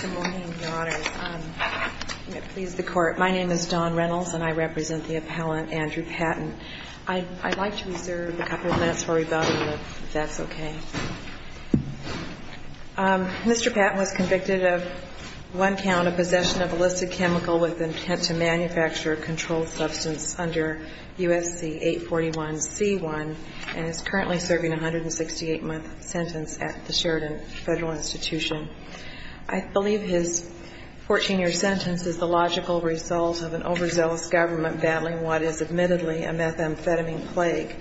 Good morning, Your Honors. My name is Dawn Reynolds, and I represent the appellant, Andrew Patton. I'd like to reserve a couple of minutes for rebuttal, if that's okay. Mr. Patton was convicted of one count of possession of illicit chemical with intent to manufacture a controlled substance under U.S.C. 841c1 and is currently serving a 168-month sentence at the Sheridan Federal Institution. I believe his 14-year sentence is the logical result of an overzealous government battling what is admittedly a methamphetamine plague.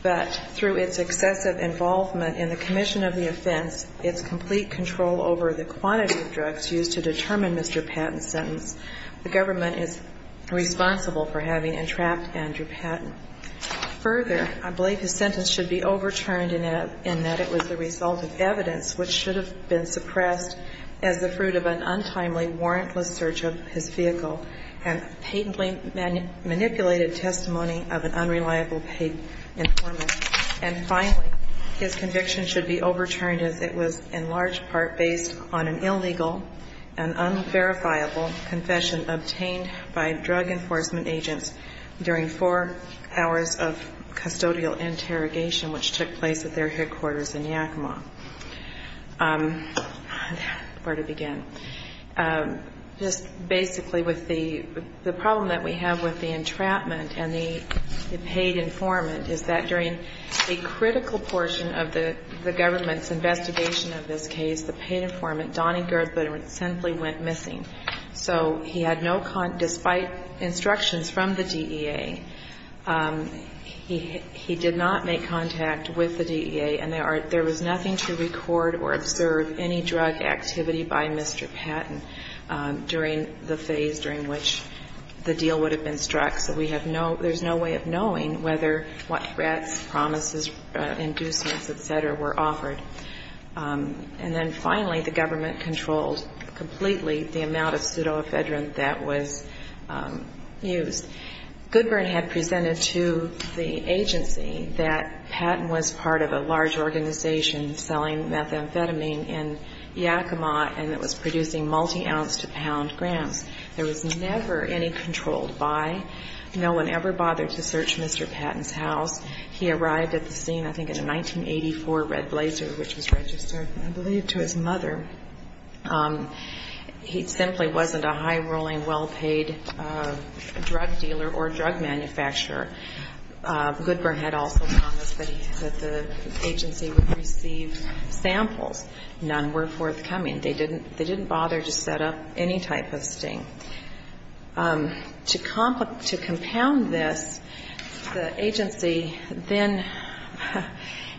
But through its excessive involvement in the commission of the offense, its complete control over the quantity of drugs used to determine Mr. Patton's sentence, the government is responsible for having entrapped Andrew Patton. Further, I believe his sentence should be overturned in that it was the result of evidence which should have been suppressed as the fruit of an untimely, warrantless search of his vehicle and patently manipulated testimony of an unreliable paid informant. And finally, his conviction should be overturned as it was in large part based on an illegal and unverifiable confession obtained by drug enforcement agents during four hours of custodial interrogation which took place at their headquarters in Yakima. Where to begin? Just basically with the problem that we have with the entrapment and the paid informant is that during a critical portion of the government's investigation of this case, the paid informant, Donnie Gerber, simply went missing. So he had no contact, despite instructions from the DEA, he did not make contact with the DEA, and there was nothing to record or observe any drug activity by Mr. Patton during the phase during which the deal would have been struck. So we have no – there's no way of knowing whether what threats, promises, inducements, et cetera, were offered. And then finally, the government controlled completely the amount of pseudoephedrine that was used. Goodburn had presented to the agency that Patton was part of a large organization selling methamphetamine in Yakima and that was producing multi-ounce to pound grams. There was never any controlled by. No one ever bothered to search Mr. Patton's house. He arrived at the scene, I think, in a 1984 Red Blazer, which was registered, I believe, to his mother. He simply wasn't a high-rolling, well-paid drug dealer or drug manufacturer. Goodburn had also promised that the agency would receive samples. None were forthcoming. They didn't bother to set up any type of sting. To compound this, the agency then,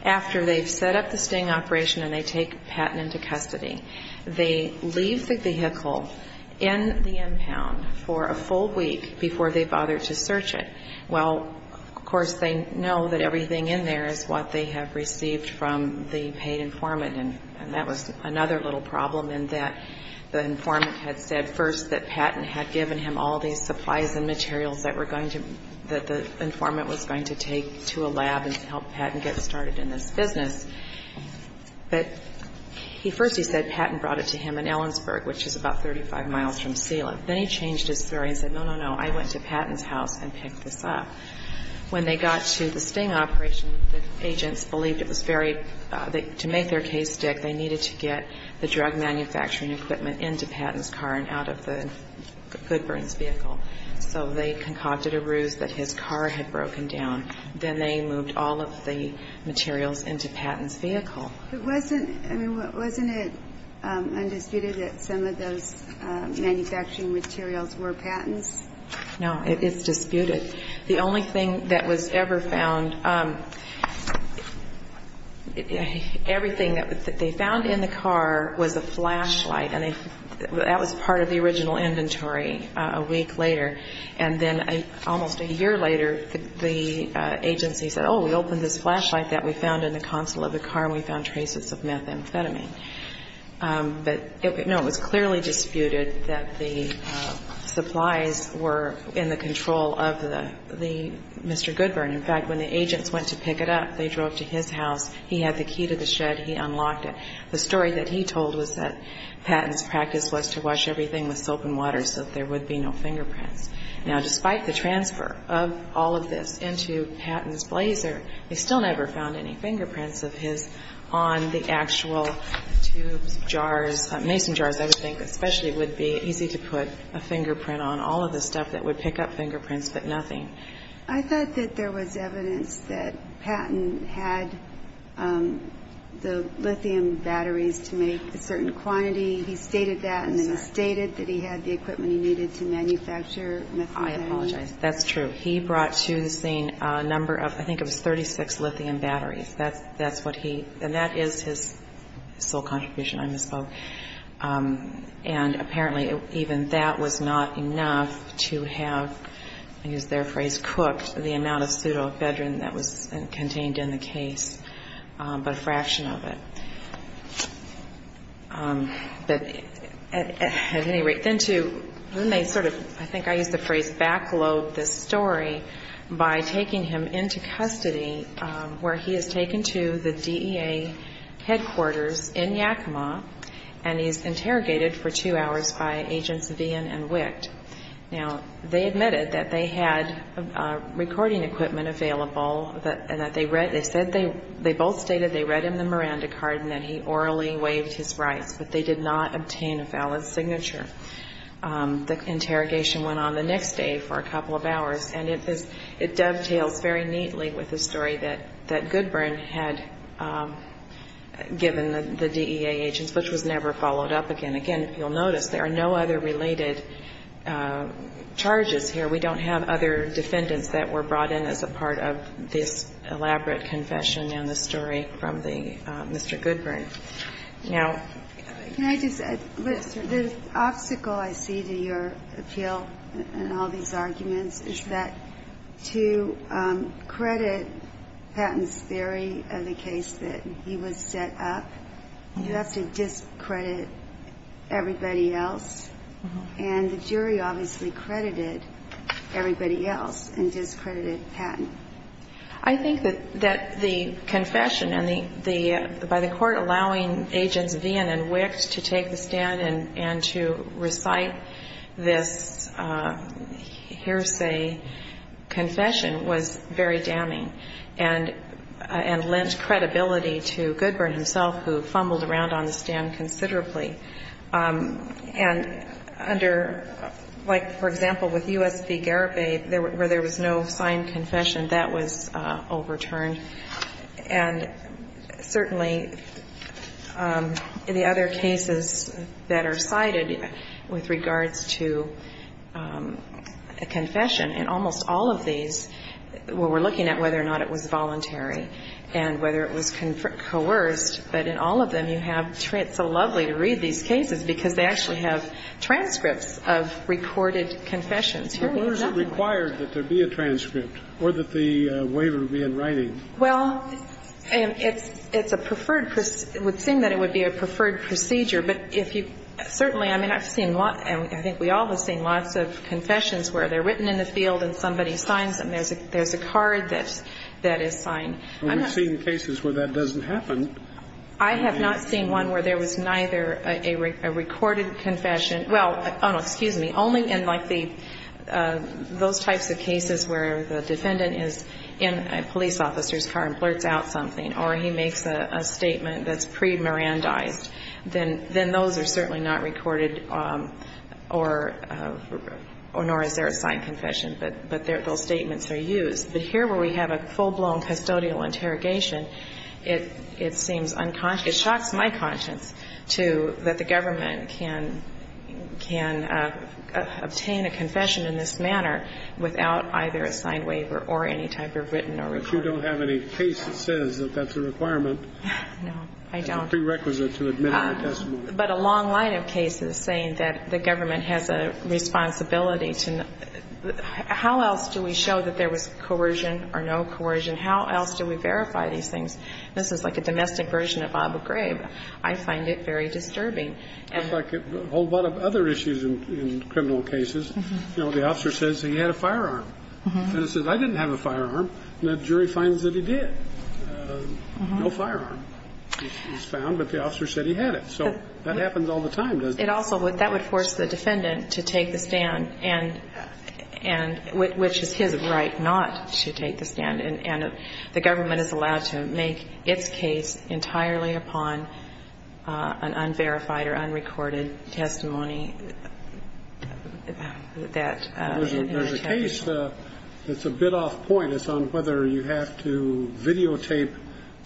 after they've set up the sting operation and they take Patton into custody, they leave the vehicle in the impound for a full week before they bother to search it. Well, of course, they know that everything in there is what they have received from the paid informant. And that was another little problem in that the informant had said first that Patton had given him all these supplies and materials that the informant was going to take to a lab and help Patton get started in this business. But first he said Patton brought it to him in Ellensburg, which is about 35 miles from Sealand. Then he changed his story and said, no, no, no, I went to Patton's house and picked this up. When they got to the sting operation, the agents believed it was very, to make their case stick, they needed to get the drug manufacturing equipment into Patton's car and out of the Goodburn's vehicle. So they concocted a ruse that his car had broken down. Then they moved all of the materials into Patton's vehicle. But wasn't, I mean, wasn't it undisputed that some of those manufacturing materials were Patton's? No. It's disputed. The only thing that was ever found, everything that they found in the car was a flashlight. And that was part of the original inventory a week later. And then almost a year later, the agency said, oh, we opened this flashlight that we found in the console of the car and we found traces of methamphetamine. But, no, it was clearly disputed that the supplies were in the control of the Mr. Goodburn. In fact, when the agents went to pick it up, they drove to his house. He had the key to the shed. He unlocked it. The story that he told was that Patton's practice was to wash everything with soap and water so that there would be no fingerprints. Now, despite the transfer of all of this into Patton's blazer, they still never found any fingerprints of his on the actual tubes, jars, mason jars, I would think, especially it would be easy to put a fingerprint on all of the stuff that would pick up fingerprints but nothing. I thought that there was evidence that Patton had the lithium batteries to make a certain quantity. He stated that and then he stated that he had the equipment he needed to manufacture methamphetamine. I apologize. That's true. He brought to the scene a number of, I think it was 36 lithium batteries. That's what he, and that is his sole contribution, I misspoke. And apparently even that was not enough to have, to use their phrase, cooked the amount of pseudoephedrine that was contained in the case, but a fraction of it. But at any rate, then to, then they sort of, I think I used the phrase, backlobed this story by taking him into custody where he is taken to the DEA headquarters in Yakima and he's interrogated for two hours by Agents Vian and Wicht. Now, they admitted that they had recording equipment available and that they read, they said they, they both stated they read him the Miranda card and that he orally waived his rights, but they did not obtain a valid signature. The interrogation went on the next day for a couple of hours, and it dovetails very neatly with the story that Goodburn had given the DEA agents, which was never followed up again. Again, if you'll notice, there are no other related charges here. We don't have other defendants that were brought in as a part of this elaborate confession and the story from the, Mr. Goodburn. Now the obstacle I see to your appeal and all these arguments is that to credit Patton's theory of the case that he was set up, you have to discredit everybody else. And the jury obviously credited everybody else and discredited Patton. I think that the confession by the court allowing Agents Vian and Wicht to take the stand and to recite this hearsay confession was very damning and lent credibility to Goodburn himself, who fumbled around on the stand considerably. And under, like, for example, with U.S. v. Garibay, where there was no signed confession, that was overturned. And certainly the other cases that are cited with regards to a confession, in almost all of these, we're looking at whether or not it was voluntary and whether it was coerced, but in all of them you have so lovely to read these cases because they actually have transcripts of recorded confessions. Here we have nothing like that. Well, where is it required that there be a transcript or that the waiver be in writing? Well, it's a preferred – it would seem that it would be a preferred procedure. But if you – certainly, I mean, I've seen – I think we all have seen lots of confessions where they're written in the field and somebody signs them. There's a card that is signed. We've seen cases where that doesn't happen. I have not seen one where there was neither a recorded confession – well, oh, no, excuse me. Only in, like, the – those types of cases where the defendant is in a police officer's car and blurts out something or he makes a statement that's pre-Mirandized. Then those are certainly not recorded, nor is there a signed confession. But those statements are used. But here where we have a full-blown custodial interrogation, it seems unconscious – it shocks my conscience, too, that the government can – can obtain a confession in this manner without either a signed waiver or any type of written or recorded – But you don't have any case that says that that's a requirement. No, I don't. It's a prerequisite to admitting a testimony. But a long line of cases saying that the government has a responsibility to – How else do we show that there was coercion or no coercion? How else do we verify these things? This is like a domestic version of Bob McGrave. I find it very disturbing. It's like a whole lot of other issues in criminal cases. You know, the officer says he had a firearm. And it says, I didn't have a firearm. And the jury finds that he did. No firearm was found, but the officer said he had it. So that happens all the time, doesn't it? It also would – that would force the defendant to take the stand, which is his right not to take the stand. And the government is allowed to make its case entirely upon an unverified or unrecorded testimony that – There's a case that's a bit off point. It's on whether you have to videotape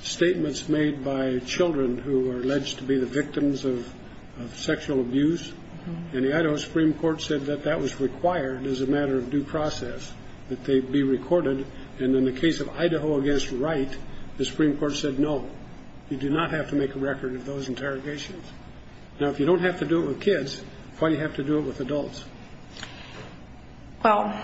statements made by children who are alleged to be the victims of sexual abuse. And the Idaho Supreme Court said that that was required as a matter of due process, that they be recorded. And in the case of Idaho against Wright, the Supreme Court said no. You do not have to make a record of those interrogations. Now, if you don't have to do it with kids, why do you have to do it with adults? Well,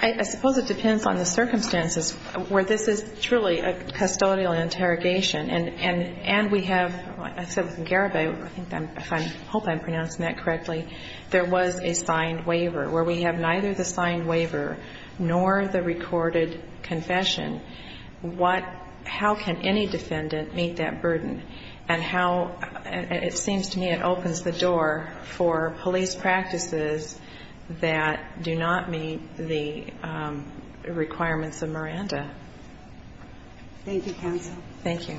I suppose it depends on the circumstances where this is truly a custodial interrogation. And we have – I said with Garibay, I hope I'm pronouncing that correctly, there was a signed waiver where we have neither the signed waiver nor the recorded confession. What – how can any defendant meet that burden? And how – it seems to me it opens the door for police practices that do not meet the requirements of Miranda. Thank you, counsel. Thank you.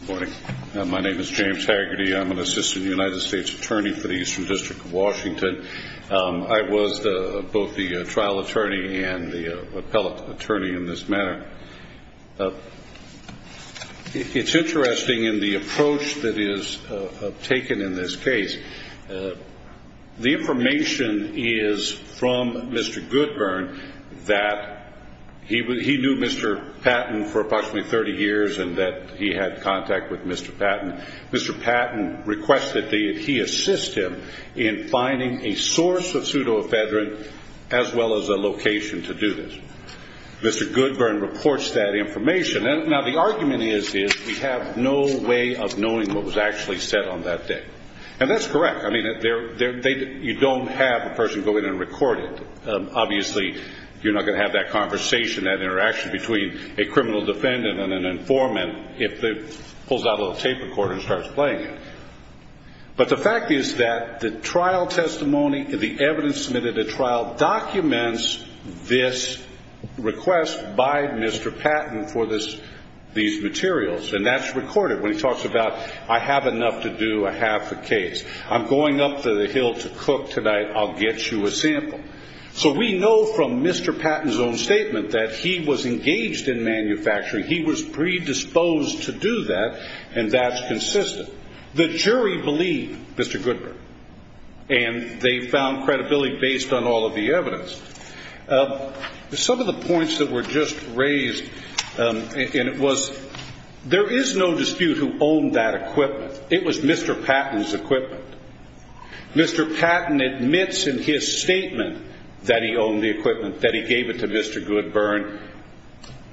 Good morning. My name is James Haggerty. I'm an assistant United States attorney for the Eastern District of Washington. I was both the trial attorney and the appellate attorney in this matter. It's interesting in the approach that is taken in this case. The information is from Mr. Goodburn that he knew Mr. Patton for approximately 30 years and that he had contact with Mr. Patton. Mr. Patton requested that he assist him in finding a source of pseudoephedrine as well as a location to do this. Mr. Goodburn reports that information. Now, the argument is we have no way of knowing what was actually said on that day. And that's correct. I mean, you don't have a person go in and record it. Obviously, you're not going to have that conversation, that interaction between a criminal defendant and an informant if it pulls out a little tape recorder and starts playing it. But the fact is that the trial testimony, the evidence submitted at trial, documents this request by Mr. Patton for these materials. And that's recorded when he talks about, I have enough to do, I have the case. I'm going up to the hill to cook tonight. I'll get you a sample. So we know from Mr. Patton's own statement that he was engaged in manufacturing. He was predisposed to do that, and that's consistent. The jury believed Mr. Goodburn, and they found credibility based on all of the evidence. Some of the points that were just raised, and it was there is no dispute who owned that equipment. It was Mr. Patton's equipment. Mr. Patton admits in his statement that he owned the equipment, that he gave it to Mr. Goodburn,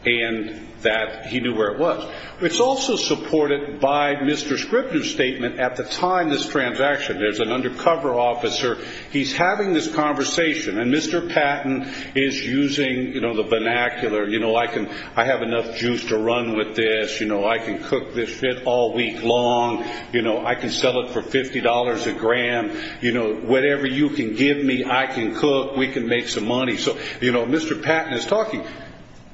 and that he knew where it was. It's also supported by Mr. Scripner's statement at the time of this transaction. There's an undercover officer. He's having this conversation, and Mr. Patton is using the vernacular. I have enough juice to run with this. I can cook this shit all week long. I can sell it for $50 a gram. Whatever you can give me, I can cook. We can make some money. So, you know, Mr. Patton is talking,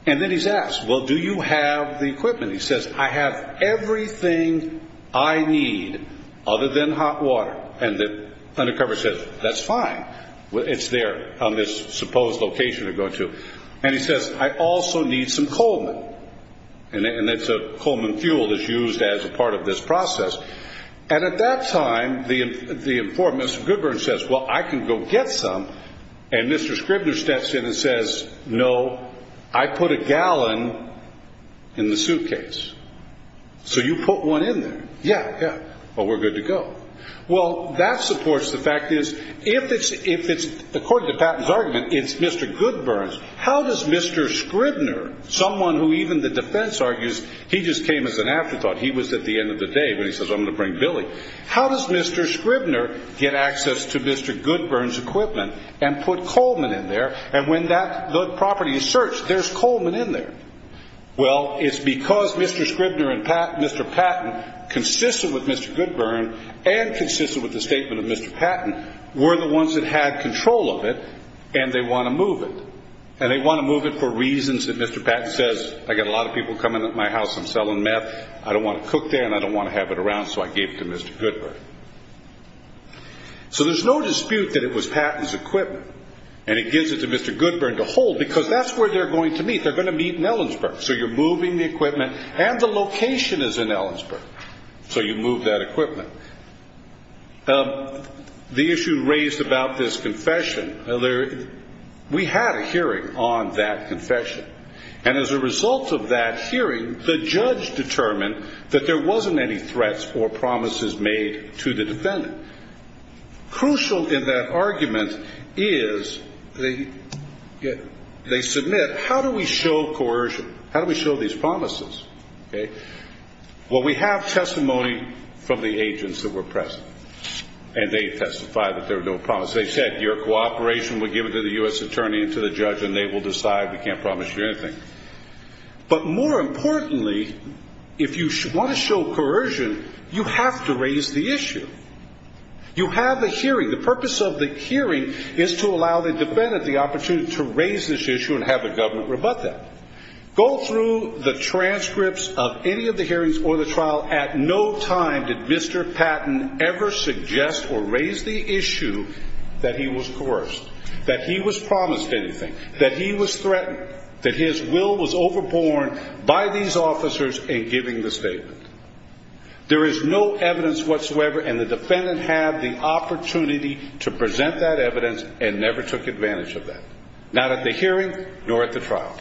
and then he's asked, well, do you have the equipment? He says, I have everything I need other than hot water. And the undercover says, that's fine. It's there on this supposed location to go to. And he says, I also need some Coleman. And it's a Coleman fuel that's used as a part of this process. And at that time, the informant, Mr. Goodburn, says, well, I can go get some. And Mr. Scripner steps in and says, no, I put a gallon in the suitcase. So you put one in there? Yeah, yeah. Well, we're good to go. Well, that supports the fact is, if it's, according to Patton's argument, it's Mr. Goodburn's, how does Mr. Scripner, someone who even the defense argues he just came as an afterthought, he was at the end of the day, but he says, I'm going to bring Billy. How does Mr. Scripner get access to Mr. Goodburn's equipment and put Coleman in there? And when that property is searched, there's Coleman in there. Well, it's because Mr. Scripner and Mr. Patton, consistent with Mr. Goodburn and consistent with the statement of Mr. Patton, were the ones that had control of it, and they want to move it. And they want to move it for reasons that Mr. Patton says, I've got a lot of people coming at my house, I'm selling meth, I don't want to cook there, and I don't want to have it around, so I gave it to Mr. Goodburn. So there's no dispute that it was Patton's equipment, and it gives it to Mr. Goodburn to hold because that's where they're going to meet. They're going to meet in Ellensburg. So you're moving the equipment, and the location is in Ellensburg. So you move that equipment. The issue raised about this confession, we had a hearing on that confession. And as a result of that hearing, the judge determined that there wasn't any threats or promises made to the defendant. Crucial in that argument is they submit, how do we show coercion? How do we show these promises? Well, we have testimony from the agents that were present, and they testified that there were no promises. They said your cooperation would give it to the U.S. attorney and to the judge, and they will decide we can't promise you anything. But more importantly, if you want to show coercion, you have to raise the issue. You have a hearing. The purpose of the hearing is to allow the defendant the opportunity to raise this issue and have the government rebut that. Go through the transcripts of any of the hearings or the trial. At no time did Mr. Patton ever suggest or raise the issue that he was coerced, that he was promised anything, that he was threatened, that his will was overborne by these officers in giving the statement. There is no evidence whatsoever, and the defendant had the opportunity to present that evidence and never took advantage of that, not at the hearing nor at the trial.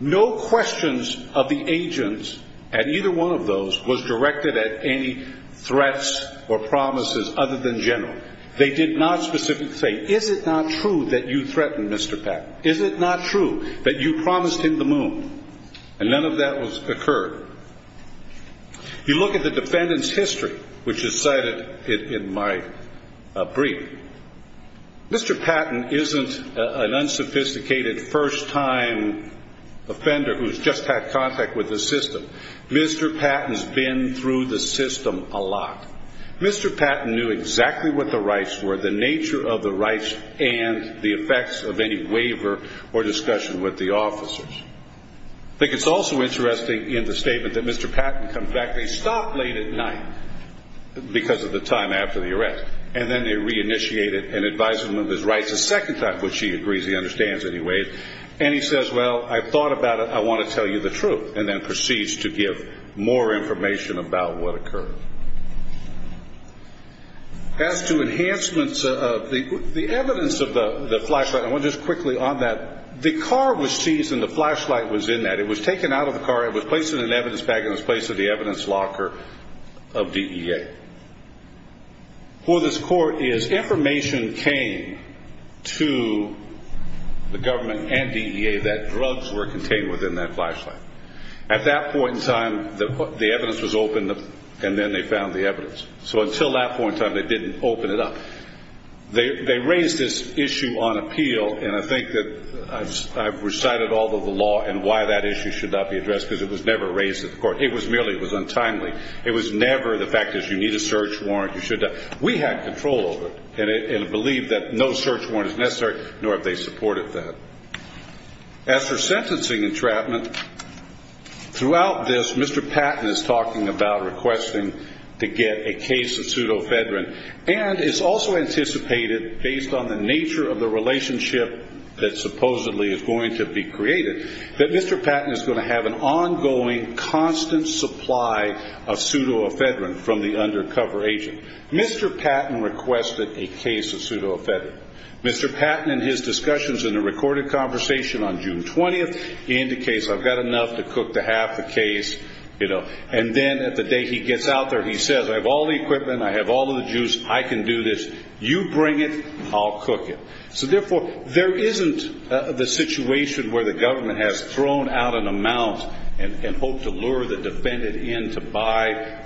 No questions of the agents at either one of those was directed at any threats or promises other than general. They did not specifically say, is it not true that you threatened Mr. Patton? Is it not true that you promised him the moon? And none of that occurred. You look at the defendant's history, which is cited in my brief. Mr. Patton isn't an unsophisticated first-time offender who's just had contact with the system. Mr. Patton's been through the system a lot. Mr. Patton knew exactly what the rights were, the nature of the rights and the effects of any waiver or discussion with the officers. I think it's also interesting in the statement that Mr. Patton comes back. They stop late at night because of the time after the arrest, and then they reinitiate it and advise him of his rights a second time, which he agrees he understands anyway. And he says, well, I've thought about it. I want to tell you the truth, and then proceeds to give more information about what occurred. As to enhancements of the evidence of the flashlight, I want to just quickly on that. The car was seized, and the flashlight was in that. It was taken out of the car. It was placed in an evidence bag, and it was placed in the evidence locker of DEA. What this court is, information came to the government and DEA that drugs were contained within that flashlight. At that point in time, the evidence was opened, and then they found the evidence. So until that point in time, they didn't open it up. They raised this issue on appeal, and I think that I've recited all of the law and why that issue should not be addressed because it was never raised at the court. It was merely, it was untimely. It was never the fact that you need a search warrant, you should not. We had control over it and believed that no search warrant is necessary, nor have they supported that. As for sentencing entrapment, throughout this, Mr. Patton is talking about requesting to get a case of pseudofedrine. And it's also anticipated, based on the nature of the relationship that supposedly is going to be created, that Mr. Patton is going to have an ongoing, constant supply of pseudofedrine from the undercover agent. Mr. Patton requested a case of pseudofedrine. Mr. Patton, in his discussions in a recorded conversation on June 20th, indicates, I've got enough to cook to half the case, you know. And then at the day he gets out there, he says, I have all the equipment, I have all the juice, I can do this. You bring it, I'll cook it. So, therefore, there isn't the situation where the government has thrown out an amount and hoped to lure the defendant in to buy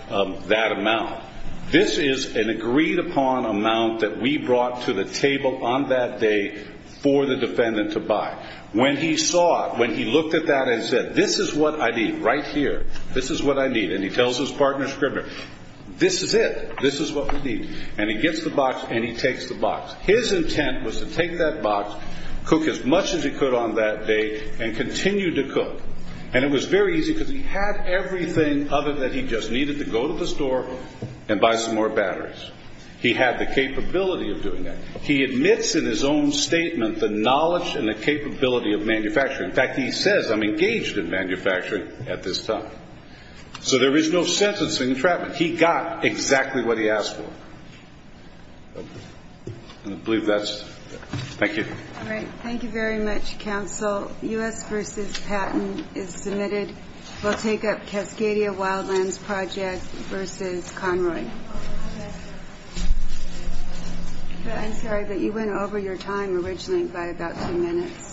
that amount. This is an agreed-upon amount that we brought to the table on that day for the defendant to buy. When he saw it, when he looked at that and said, this is what I need right here, this is what I need, and he tells his partner, Scribner, this is it, this is what we need. And he gets the box and he takes the box. His intent was to take that box, cook as much as he could on that day, and continue to cook. And it was very easy because he had everything other than he just needed to go to the store and buy some more batteries. He had the capability of doing that. He admits in his own statement the knowledge and the capability of manufacturing. In fact, he says, I'm engaged in manufacturing at this time. So there is no sentencing and entrapment. He got exactly what he asked for. I believe that's it. Thank you. All right. Thank you very much, counsel. U.S. v. Patton is submitted. We'll take up Cascadia Wildlands Project v. Conroy. I'm sorry, but you went over your time originally by about two minutes. Thank you.